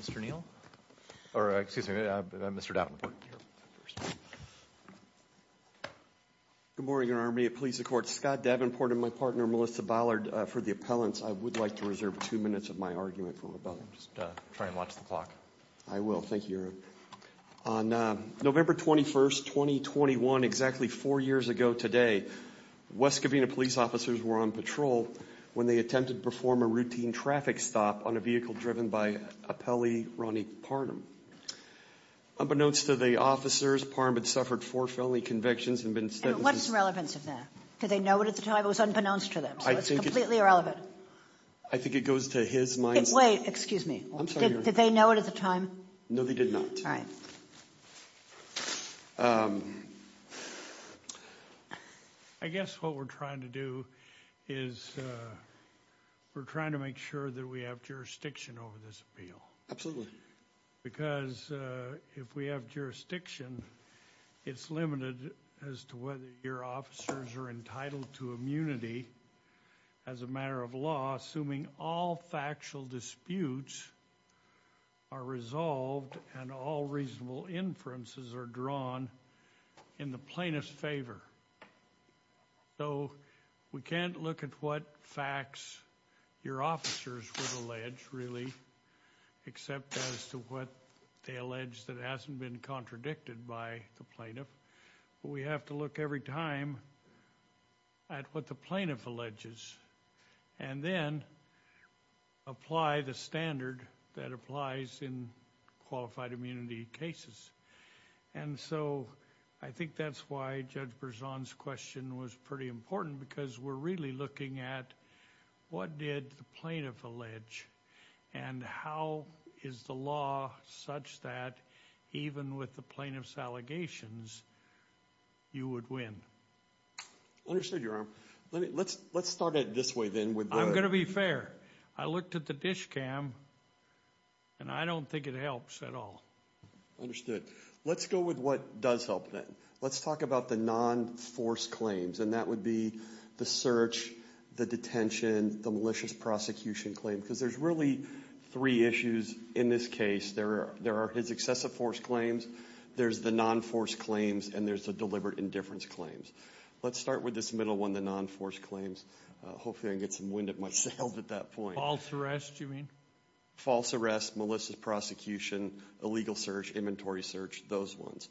Mr. Neal or excuse me Mr. Davenport. Good morning Your Honor. May it please the court. Scott Davenport and my partner Melissa Ballard for the appellants. I would like to reserve two minutes of my argument from above. Just try and watch the clock. I will. Thank you. On November 21st 2021, exactly four years ago today, West Covina police officers were on patrol when they attempted to perform a routine traffic stop on a vehicle driven by appellee Ronnie Parham. Unbeknownst to the officers, Parham had suffered four felony convictions and been sentenced. What's the relevance of that? Did they know it at the time? It was unbeknownst to them. I think it's completely irrelevant. I think it goes to his mind. Wait, excuse me. Did they know it at the time? No they did not. All right. I guess what we're trying to do is we're trying to make sure that we have jurisdiction over this appeal. Absolutely. Because if we have jurisdiction, it's limited as to whether your officers are entitled to immunity as a matter of law, assuming all factual disputes are resolved and all reasonable inferences are drawn in the plainest favor. So we can't look at what facts your officers would allege, really, except as to what they allege that hasn't been contradicted by the plaintiff. We have to look every time at what the plaintiff alleges and then apply the standard that applies in qualified immunity cases. And so I think that's why Judge Berzon's question was pretty important because we're really looking at what did the plaintiff allege and how is the law such that even with the plaintiff's allegations you would win. Understood, Your Honor. Let's start it this way then. I'm gonna be fair. I looked at the DISH Cam and I don't think it helps at all. Understood. Let's go with what does help then. Let's talk about the non-force claims and that would be the search, the detention, the malicious prosecution claim. Because there's really three issues in this case. There are his excessive force claims, there's the non-force claims, and there's the deliberate indifference claims. Let's start with this middle one, the non-force claims. Hopefully I can get some wind of myself at that point. False arrest, you mean? Illegal search, inventory search, those ones.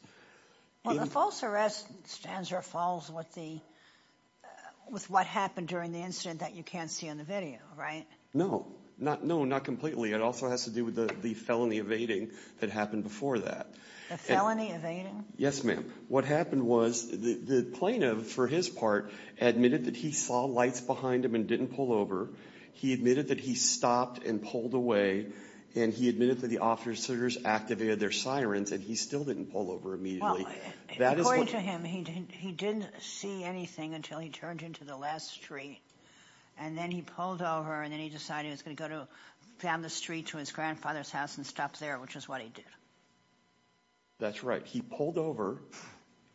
Well the false arrest stands or falls with what happened during the incident that you can't see on the video, right? No, not completely. It also has to do with the felony evading that happened before that. The felony evading? Yes, ma'am. What happened was the plaintiff, for his part, admitted that he saw lights behind him and didn't pull over. He admitted that he stopped and pulled away and he admitted that the officers activated their sirens and he still didn't pull over immediately. According to him, he didn't see anything until he turned into the last street and then he pulled over and then he decided he was going to go down the street to his grandfather's house and stop there, which is what he did. That's right. He pulled over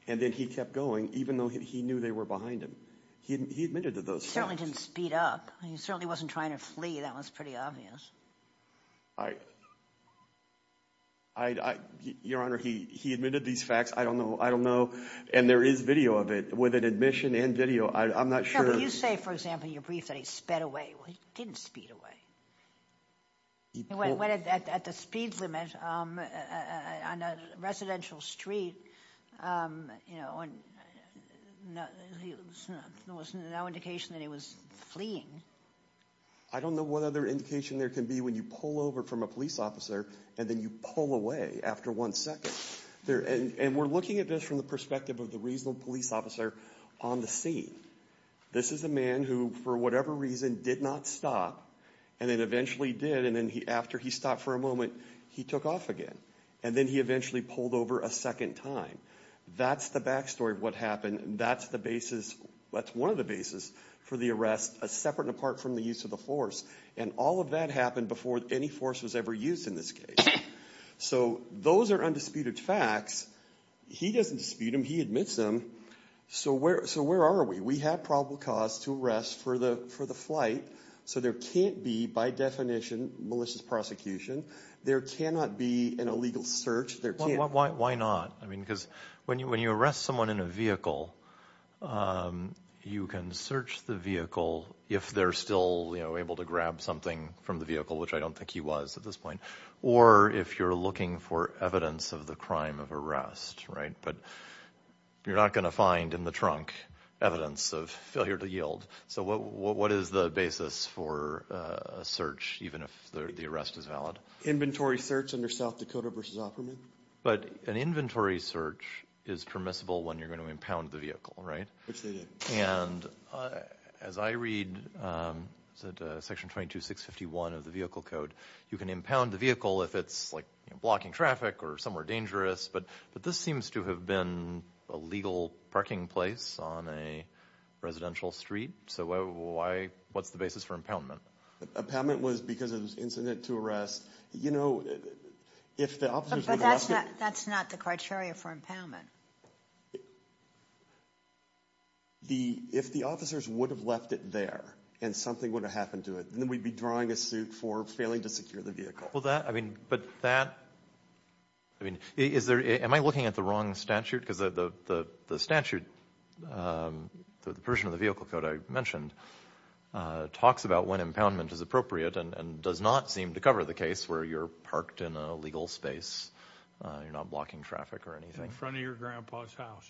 and then he kept going even though he knew they were behind him. He admitted to those things. He certainly didn't speed up. He certainly wasn't trying to flee. That was pretty obvious. Your Honor, he admitted these facts. I don't know. I don't know and there is video of it with an admission and video. I'm not sure. You say, for example, in your brief that he sped away. Well, he didn't speed away. He went at the speed limit on a residential street, you know, and there was no indication that he was fleeing. I don't know what other indication there can be when you pull over from a police officer and then you pull away after one second. And we're looking at this from the perspective of the reasonable police officer on the scene. This is a man who, for whatever reason, did not stop and then eventually did and then after he stopped for a moment, he took off again. And then he eventually pulled over a second time. That's the back story of what happened. That's the basis, that's one of the basis for the arrest. That's separate and apart from the use of the force. And all of that happened before any force was ever used in this case. So those are undisputed facts. He doesn't dispute them. He admits them. So where are we? We have probable cause to arrest for the flight. So there can't be, by definition, malicious prosecution. There cannot be an illegal search. Why not? Because when you arrest someone in a vehicle, you can search the vehicle if they're still able to grab something from the vehicle, which I don't think he was at this point, or if you're looking for evidence of the crime of arrest. But you're not going to find in the trunk evidence of failure to yield. So what is the basis for a search, even if the arrest is valid? Inventory search under South Dakota v. Opperman? But an inventory search is permissible when you're going to impound the vehicle, right? Which they did. And as I read, section 22651 of the vehicle code, you can impound the vehicle if it's blocking traffic or somewhere dangerous. But this seems to have been a legal parking place on a residential street. So what's the basis for impoundment? Impoundment was because it was incident to arrest. But that's not the criteria for impoundment. If the officers would have left it there and something would have happened to it, then we'd be drawing a suit for failing to secure the vehicle. Am I looking at the wrong statute? Because the statute, the version of the vehicle code I mentioned, talks about when impoundment is appropriate and does not seem to cover the case where you're parked in an illegal space, you're not blocking traffic or anything. In front of your grandpa's house.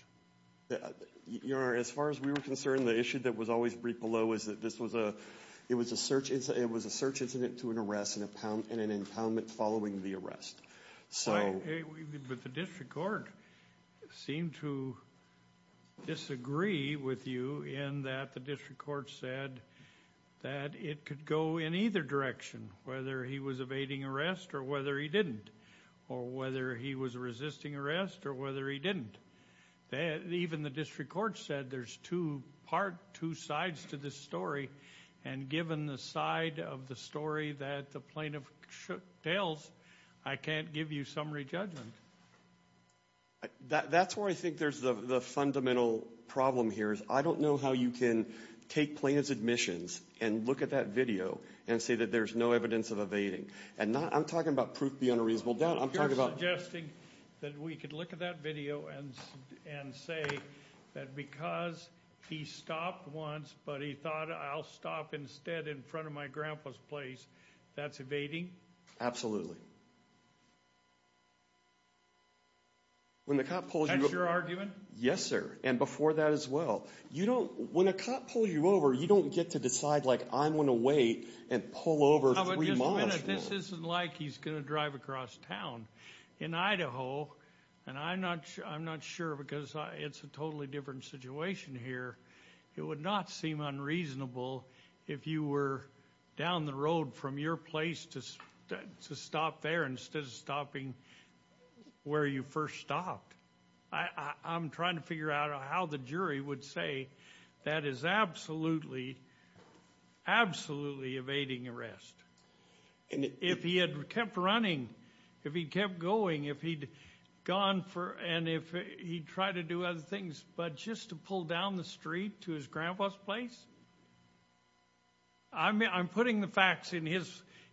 Your Honor, as far as we were concerned, the issue that was always briefed below was that it was a search incident to an arrest and an impoundment following the arrest. But the district court seemed to disagree with you in that the district court said that it could go in either direction, whether he was evading arrest or whether he didn't, or whether he was resisting arrest or whether he didn't. Even the district court said there's two sides to this story. And given the side of the story that the plaintiff tells, I can't give you summary judgment. That's where I think there's the fundamental problem here is I don't know how you can take plaintiff's admissions and look at that video and say that there's no evidence of evading. And I'm talking about proof beyond a reasonable doubt. You're suggesting that we could look at that video and say that because he stopped once but he thought, I'll stop instead in front of my grandpa's place, that's evading? Absolutely. That's your argument? Yes, sir. And before that as well. When a cop pulls you over, you don't get to decide, like, I'm going to wait and pull over three miles. Just a minute. This isn't like he's going to drive across town. In Idaho, and I'm not sure because it's a totally different situation here, it would not seem unreasonable if you were down the road from your place to stop there instead of stopping where you first stopped. I'm trying to figure out how the jury would say that is absolutely, absolutely evading arrest. And if he had kept running, if he kept going, if he'd gone for and if he tried to do other things but just to pull down the street to his grandpa's place, I'm putting the facts in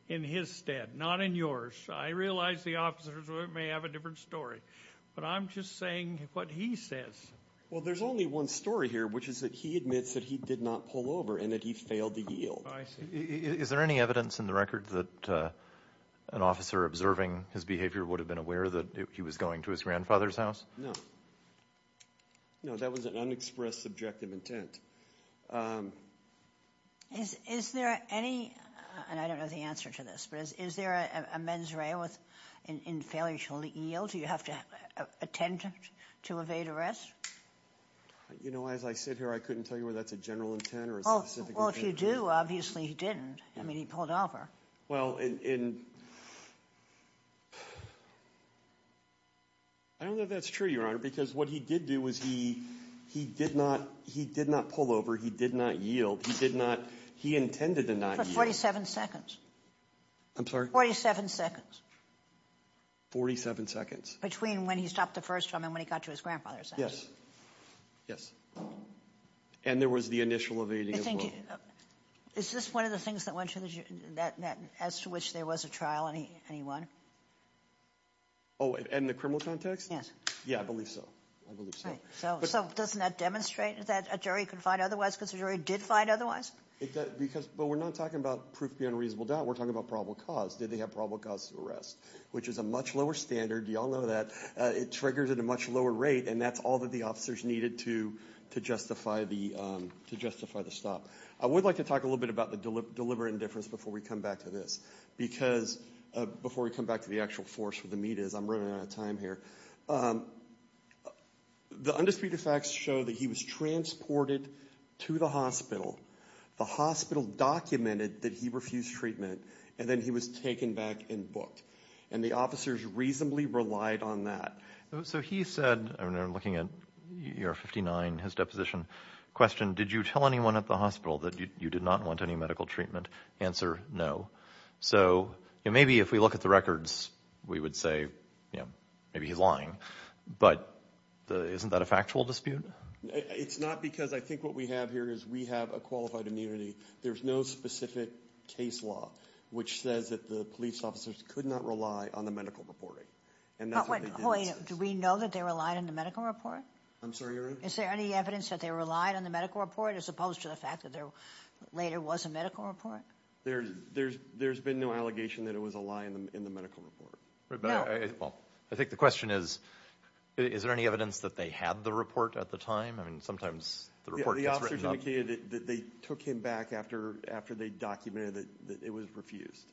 his stead, not in yours. I realize the officers may have a different story, but I'm just saying what he says. Well, there's only one story here, which is that he admits that he did not pull over and that he failed to yield. Is there any evidence in the record that an officer observing his behavior would have been aware that he was going to his grandfather's house? No. No, that was an unexpressed subjective intent. Is there any, and I don't know the answer to this, but is there a mens rea in failure to yield? Do you have to attempt to evade arrest? You know, as I sit here, I couldn't tell you whether that's a general intent or a specific intent. Well, if you do, obviously he didn't. I mean, he pulled over. Well, and I don't know if that's true, Your Honor, because what he did do was he did not pull over, he did not yield, he did not, he intended to not yield. For 47 seconds. I'm sorry? 47 seconds. 47 seconds. Between when he stopped the first time and when he got to his grandfather's house. Yes, yes. And there was the initial evading as well. Is this one of the things that went through, as to which there was a trial and he won? Oh, in the criminal context? Yes. Yeah, I believe so. I believe so. So doesn't that demonstrate that a jury can find otherwise because the jury did find otherwise? But we're not talking about proof beyond a reasonable doubt, we're talking about probable cause. Did they have probable cause to arrest, which is a much lower standard, you all know that. It triggers at a much lower rate and that's all that the officers needed to justify the stop. I would like to talk a little bit about the deliberate indifference before we come back to this. Because before we come back to the actual force where the meat is, I'm running out of time here. The undisputed facts show that he was transported to the hospital, the hospital documented that he refused treatment, and then he was taken back and booked. And the officers reasonably relied on that. So he said, and I'm looking at your 59, his deposition question, did you tell anyone at the hospital that you did not want any medical treatment? Answer, no. So maybe if we look at the records, we would say maybe he's lying. But isn't that a factual dispute? It's not because I think what we have here is we have a qualified immunity. There's no specific case law which says that the police officers could not rely on the medical reporting. And that's what they did. Do we know that they relied on the medical report? I'm sorry, Your Honor? Is there any evidence that they relied on the medical report as opposed to the fact that there later was a medical report? There's been no allegation that it was a lie in the medical report. I think the question is, is there any evidence that they had the report at the time? I mean, sometimes the report gets written up. They took him back after they documented that it was refused.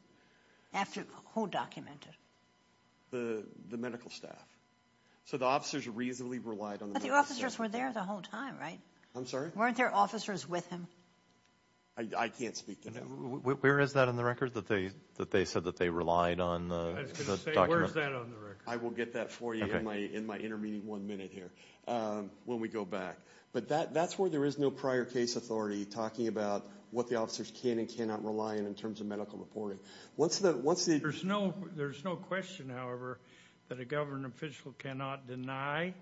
After who documented? The medical staff. So the officers reasonably relied on the medical staff. But the officers were there the whole time, right? I'm sorry? Weren't there officers with him? I can't speak to that. Where is that on the record, that they said that they relied on the document? I was going to say, where is that on the record? I will get that for you in my intermediate one minute here when we go back. But that's where there is no prior case authority talking about what the officers can and cannot rely on in terms of medical reporting. There's no question, however, that a government official cannot deny,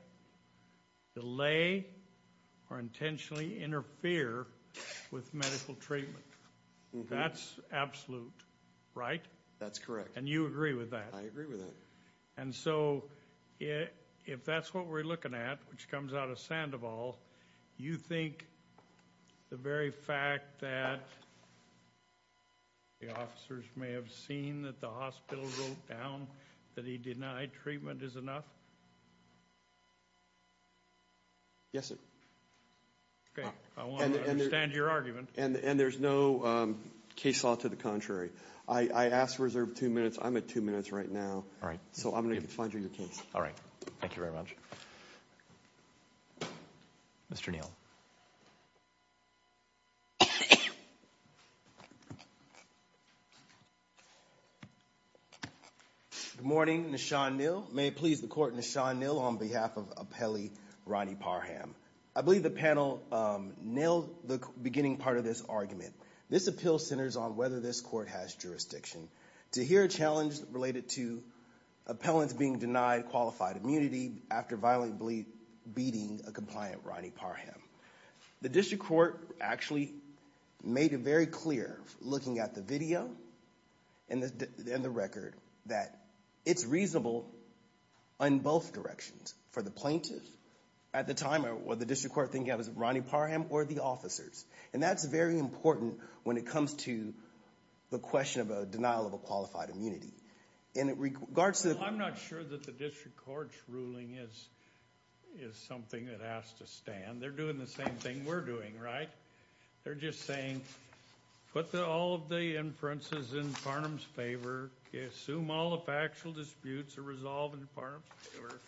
delay, or intentionally interfere with medical treatment. That's absolute, right? That's correct. And you agree with that? I agree with that. And so if that's what we're looking at, which comes out of Sandoval, you think the very fact that the officers may have seen that the hospital wrote down that he denied treatment is enough? Yes, sir. Okay. I want to understand your argument. And there's no case law to the contrary. I asked to reserve two minutes. I'm at two minutes right now. All right. So I'm going to find you your case. All right. Thank you very much. Mr. Neal. Good morning. Nishan Neal. May it please the Court, Nishan Neal on behalf of appellee Ronnie Parham. I believe the panel nailed the beginning part of this argument. This appeal centers on whether this court has jurisdiction. To hear a challenge related to appellants being denied qualified immunity after violently beating a compliant Ronnie Parham. The district court actually made it very clear, looking at the video and the record, that it's reasonable in both directions for the plaintiff at the time, or the district court, thinking it was Ronnie Parham or the officers. And that's very important when it comes to the question of a denial of a qualified immunity. I'm not sure that the district court's ruling is something that has to stand. They're doing the same thing we're doing, right? They're just saying put all of the inferences in Parham's favor. Assume all the factual disputes are resolved in Parham's favor.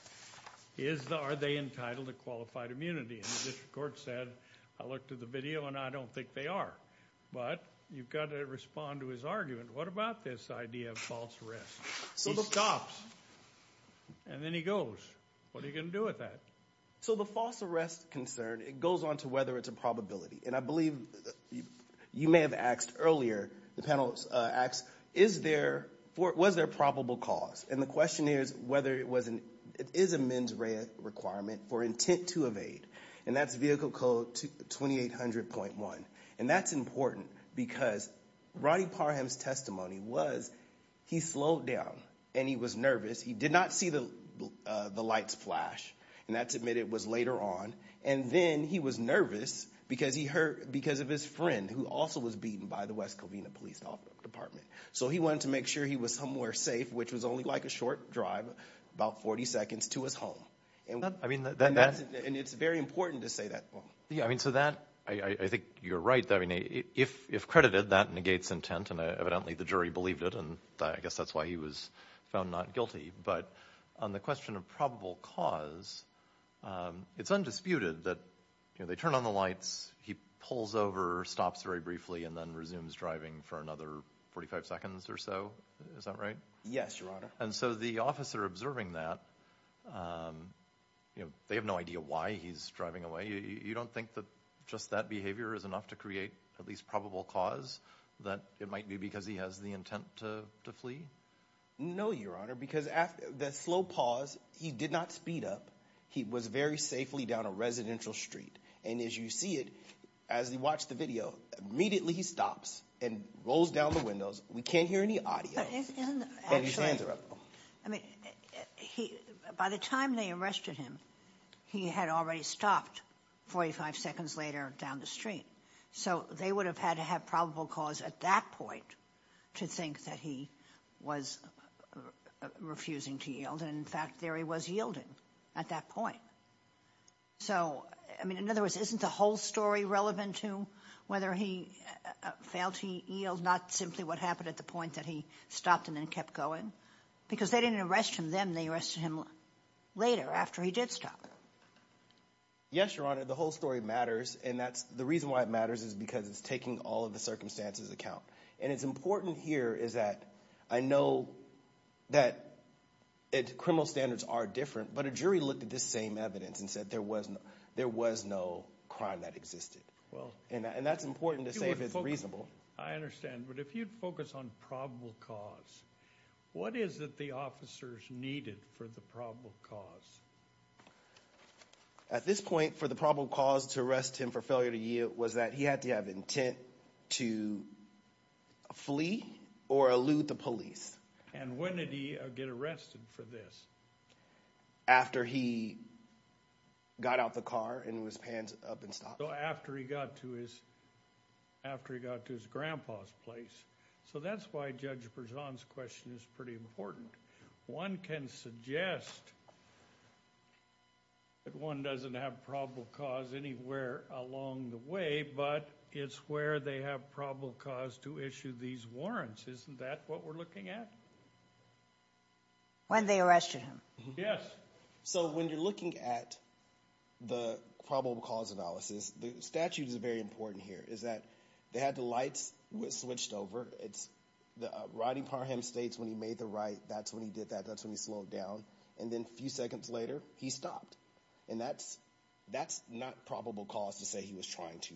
Are they entitled to qualified immunity? And the district court said, I looked at the video and I don't think they are. But you've got to respond to his argument. What about this idea of false arrest? He stops. And then he goes. What are you going to do with that? So the false arrest concern, it goes on to whether it's a probability. And I believe you may have asked earlier, the panel asked, was there probable cause? And the question is whether it is a mens rea requirement for intent to evade. And that's vehicle code 2800.1. And that's important because Ronnie Parham's testimony was he slowed down and he was nervous. He did not see the lights flash. And that's admitted was later on. And then he was nervous because of his friend, who also was beaten by the West Covina Police Department. So he wanted to make sure he was somewhere safe, which was only like a short drive, about 40 seconds to his home. And it's very important to say that. Yeah. I mean, so that I think you're right. I mean, if credited, that negates intent. And evidently the jury believed it. And I guess that's why he was found not guilty. But on the question of probable cause, it's undisputed that they turn on the lights. He pulls over, stops very briefly, and then resumes driving for another 45 seconds or so. Is that right? Yes, Your Honor. And so the officer observing that, they have no idea why he's driving away. You don't think that just that behavior is enough to create at least probable cause that it might be because he has the intent to flee? No, Your Honor, because the slow pause, he did not speed up. He was very safely down a residential street. And as you see it, as you watch the video, immediately he stops and rolls down the windows. We can't hear any audio. And his hands are up. I mean, by the time they arrested him, he had already stopped 45 seconds later down the street. So they would have had to have probable cause at that point to think that he was refusing to yield. And, in fact, there he was yielding at that point. So, I mean, in other words, isn't the whole story relevant to whether he failed to yield, not simply what happened at the point that he stopped and then kept going? Because they didn't arrest him then. They arrested him later after he did stop. Yes, Your Honor. The whole story matters, and the reason why it matters is because it's taking all of the circumstances into account. And it's important here is that I know that criminal standards are different, but a jury looked at this same evidence and said there was no crime that existed. And that's important to say if it's reasonable. I understand. But if you'd focus on probable cause, what is it the officers needed for the probable cause? At this point, for the probable cause to arrest him for failure to yield was that he had to have intent to flee or elude the police. And when did he get arrested for this? After he got out of the car and his hands up and stopped. So after he got to his grandpa's place. So that's why Judge Berzon's question is pretty important. One can suggest that one doesn't have probable cause anywhere along the way, but it's where they have probable cause to issue these warrants. Isn't that what we're looking at? When they arrested him. Yes. So when you're looking at the probable cause analysis, the statute is very important here, is that they had the lights switched over. Rodney Parham states when he made the right, that's when he did that, that's when he slowed down. And then a few seconds later, he stopped. And that's not probable cause to say he was trying to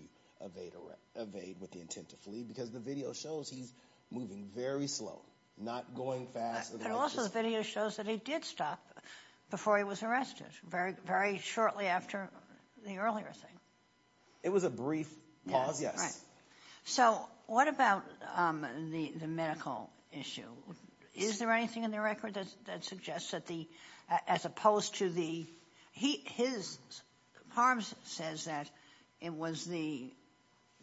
evade with the intent to flee, because the video shows he's moving very slow, not going fast. But also the video shows that he did stop before he was arrested, very shortly after the earlier thing. It was a brief pause, yes. All right. So what about the medical issue? Is there anything in the record that suggests that the, as opposed to the, he, his, Parham says that it was the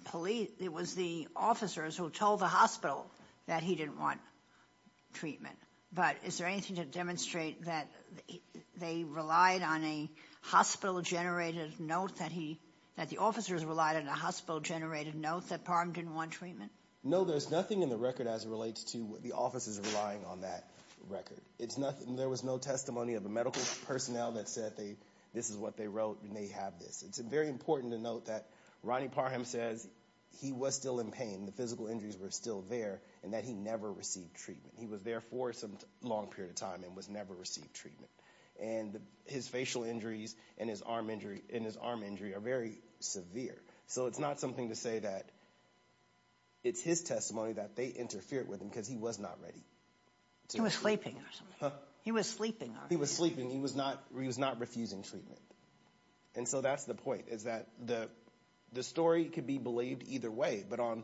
police, it was the officers who told the hospital that he didn't want treatment. But is there anything to demonstrate that they relied on a hospital-generated note, that the officers relied on a hospital-generated note that Parham didn't want treatment? No, there's nothing in the record as it relates to the officers relying on that record. There was no testimony of the medical personnel that said this is what they wrote and they have this. It's very important to note that Rodney Parham says he was still in pain, the physical injuries were still there, and that he never received treatment. He was there for some long period of time and was never received treatment. And his facial injuries and his arm injury are very severe. So it's not something to say that it's his testimony that they interfered with him because he was not ready. He was sleeping or something. He was sleeping. He was sleeping. He was not refusing treatment. And so that's the point, is that the story could be believed either way, but on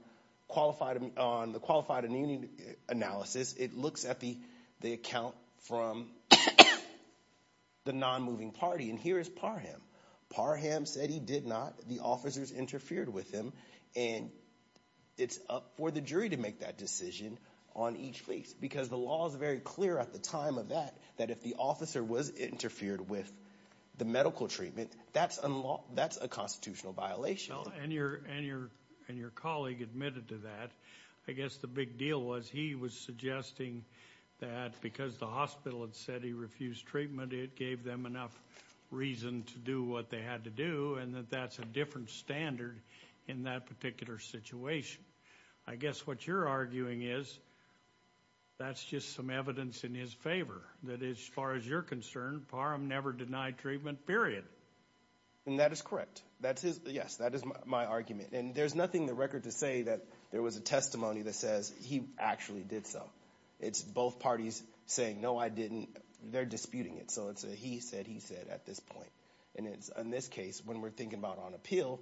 the qualified analysis, it looks at the account from the non-moving party, and here is Parham. Parham said he did not. The officers interfered with him, and it's up for the jury to make that decision on each case because the law is very clear at the time of that that if the officer was interfered with the medical treatment, that's a constitutional violation. And your colleague admitted to that. I guess the big deal was he was suggesting that because the hospital had said he refused treatment, it gave them enough reason to do what they had to do and that that's a different standard in that particular situation. I guess what you're arguing is that's just some evidence in his favor, that as far as you're concerned, Parham never denied treatment, period. And that is correct. Yes, that is my argument. And there's nothing in the record to say that there was a testimony that says he actually did so. It's both parties saying, no, I didn't. They're disputing it. So it's a he said, he said at this point. And in this case, when we're thinking about on appeal,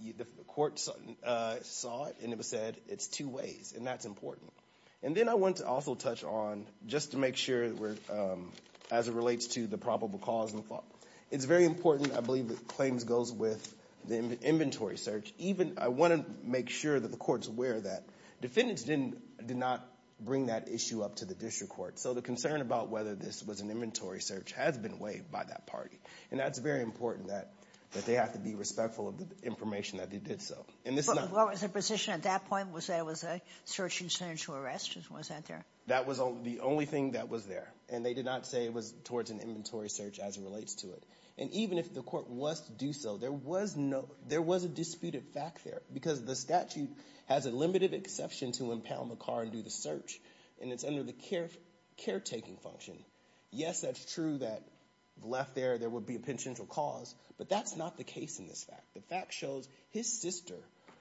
the court saw it and it was said it's two ways, and that's important. And then I want to also touch on, just to make sure as it relates to the probable cause, it's very important. I believe that claims goes with the inventory search. Even I want to make sure that the court's aware that defendants did not bring that issue up to the district court. So the concern about whether this was an inventory search has been waived by that party. And that's very important that they have to be respectful of the information that they did so. And this is not. What was the position at that point? Was there a search and search to arrest? Was that there? That was the only thing that was there. And they did not say it was towards an inventory search as it relates to it. And even if the court was to do so, there was a disputed fact there. Because the statute has a limited exception to impound the car and do the search. And it's under the caretaking function. Yes, that's true that left there, there would be a penitential cause. But that's not the case in this fact. The fact shows his sister,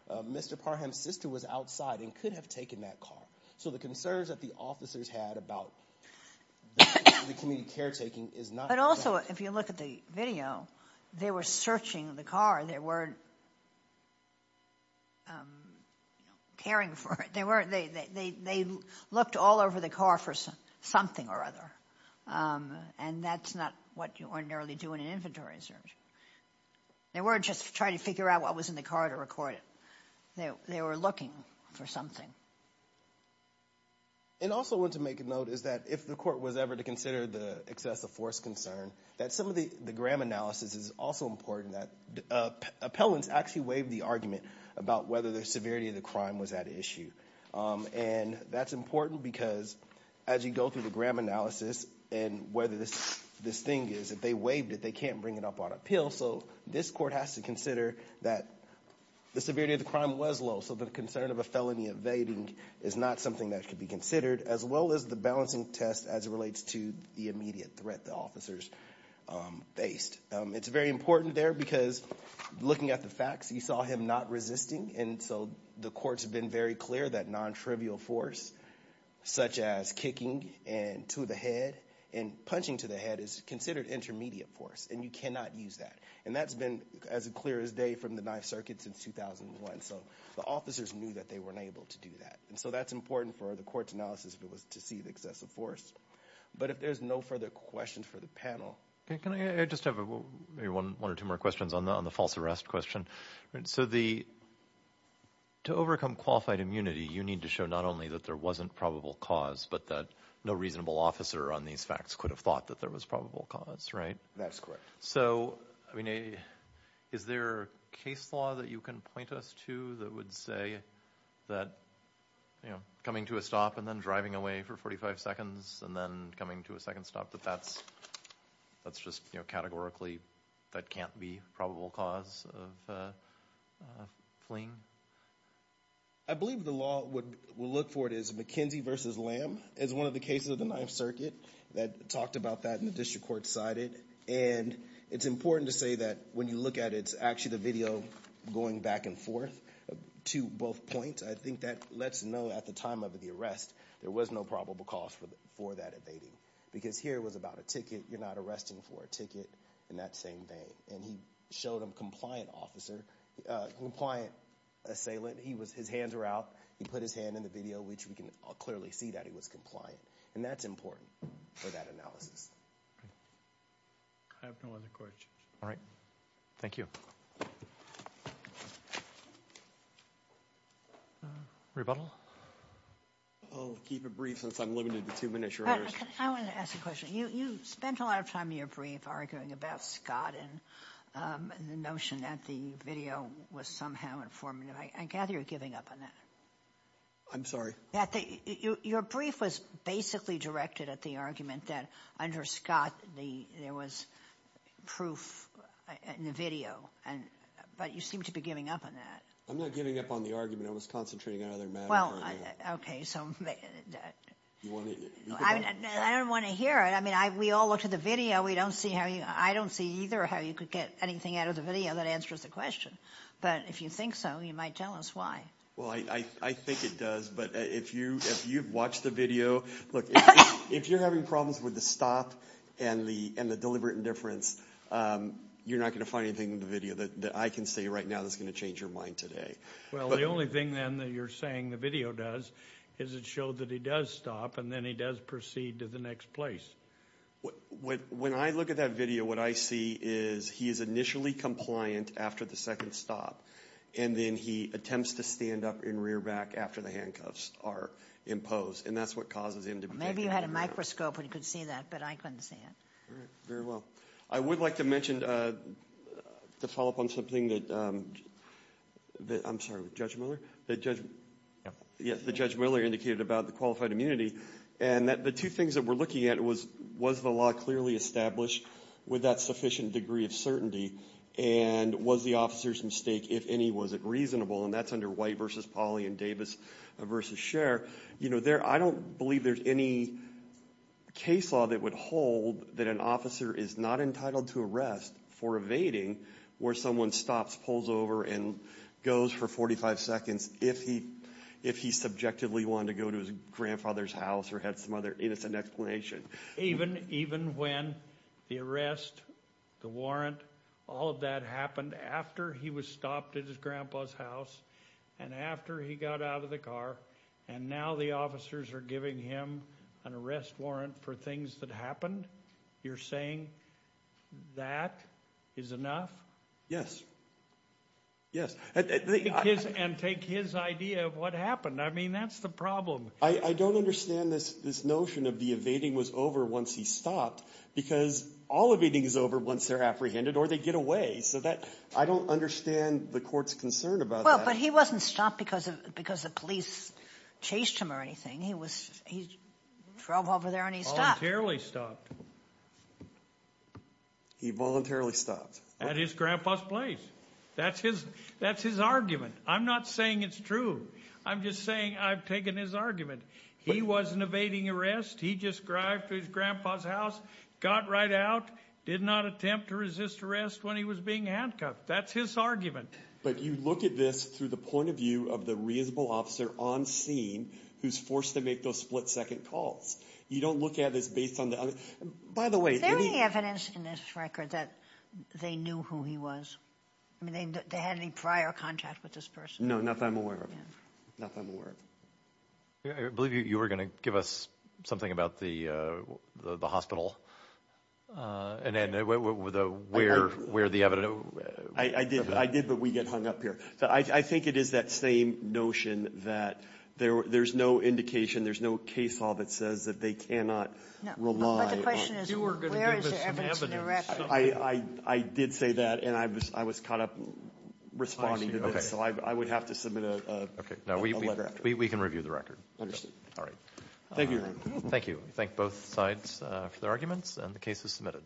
Mr. Parham's sister, was outside and could have taken that car. So the concerns that the officers had about the community caretaking is not. But also if you look at the video, they were searching the car. They weren't caring for it. They looked all over the car for something or other. And that's not what you ordinarily do in an inventory search. They weren't just trying to figure out what was in the car to record it. They were looking for something. And also I want to make a note is that if the court was ever to consider the excessive force concern, that some of the gram analysis is also important. Appellants actually waived the argument about whether the severity of the crime was at issue. And that's important because as you go through the gram analysis and whether this thing is, if they waived it, they can't bring it up on appeal. So this court has to consider that the severity of the crime was low. So the concern of a felony evading is not something that could be considered, as well as the balancing test as it relates to the immediate threat the officers faced. It's very important there because looking at the facts, you saw him not resisting. And so the courts have been very clear that non-trivial force, such as kicking to the head and that's been as clear as day from the ninth circuit since 2001. So the officers knew that they weren't able to do that. And so that's important for the court's analysis if it was to see the excessive force. But if there's no further questions for the panel. Can I just have maybe one or two more questions on the false arrest question? So to overcome qualified immunity, you need to show not only that there wasn't probable cause, but that no reasonable officer on these facts could have thought that there was probable cause, right? That's correct. So is there a case law that you can point us to that would say that coming to a stop and then driving away for 45 seconds and then coming to a second stop, that that's just categorically that can't be probable cause of fleeing? I believe the law would look for it as McKenzie v. Lamb. It's one of the cases of the ninth circuit that talked about that in the district court sided. And it's important to say that when you look at it, it's actually the video going back and forth to both points. I think that lets us know at the time of the arrest there was no probable cause for that evading. Because here it was about a ticket. You're not arresting for a ticket in that same vein. And he showed a compliant officer, compliant assailant. His hands were out. He put his hand in the video, which we can clearly see that he was compliant. And that's important for that analysis. I have no other questions. All right. Thank you. Rebuttal? I'll keep it brief since I'm limited to two minutes. I want to ask a question. You spent a lot of time in your brief arguing about Scott and the notion that the video was somehow informative. I gather you're giving up on that. I'm sorry? Your brief was basically directed at the argument that under Scott there was proof in the video. But you seem to be giving up on that. I'm not giving up on the argument. I was concentrating on another matter. Okay. I don't want to hear it. I mean, we all looked at the video. I don't see either how you could get anything out of the video that answers the question. But if you think so, you might tell us why. Well, I think it does. But if you've watched the video, look, if you're having problems with the stop and the deliberate indifference, you're not going to find anything in the video that I can say right now that's going to change your mind today. Well, the only thing, then, that you're saying the video does is it showed that he does stop, and then he does proceed to the next place. When I look at that video, what I see is he is initially compliant after the second stop. And then he attempts to stand up in rear back after the handcuffs are imposed. And that's what causes him to be taken into custody. Maybe you had a microscope and could see that, but I couldn't see it. All right. Very well. I would like to mention, to follow up on something that Judge Miller indicated about the qualified immunity, and that the two things that we're looking at was, was the law clearly established with that sufficient degree of certainty, and was the officer's mistake, if any, was it reasonable? And that's under White v. Pauley and Davis v. Scher. You know, I don't believe there's any case law that would hold that an officer is not entitled to arrest for evading where someone stops, pulls over, and goes for 45 seconds if he subjectively wanted to go to his grandfather's house or had some other innocent explanation. Even when the arrest, the warrant, all of that happened after he was stopped at his grandpa's house and after he got out of the car, and now the officers are giving him an arrest warrant for things that happened? You're saying that is enough? Yes. Yes. And take his idea of what happened. I mean, that's the problem. I don't understand this notion of the evading was over once he stopped, because all evading is over once they're apprehended or they get away. So I don't understand the court's concern about that. Well, but he wasn't stopped because the police chased him or anything. He drove over there and he stopped. Voluntarily stopped. He voluntarily stopped. At his grandpa's place. That's his argument. I'm not saying it's true. I'm just saying I've taken his argument. He wasn't evading arrest. He just drove to his grandpa's house, got right out, did not attempt to resist arrest when he was being handcuffed. That's his argument. But you look at this through the point of view of the reasonable officer on scene who's forced to make those split-second calls. You don't look at this based on the other. By the way, any— Is there any evidence in this record that they knew who he was? I mean, they had any prior contact with this person? No, not that I'm aware of. Not that I'm aware of. I believe you were going to give us something about the hospital and where the evidence— I did, but we get hung up here. I think it is that same notion that there's no indication, there's no case law that says that they cannot rely on— No, but the question is where is there evidence in the record? I did say that, and I was caught up responding to this. So I would have to submit a letter. We can review the record. Understood. All right. Thank you, Your Honor. Thank you. Thank both sides for their arguments, and the case is submitted.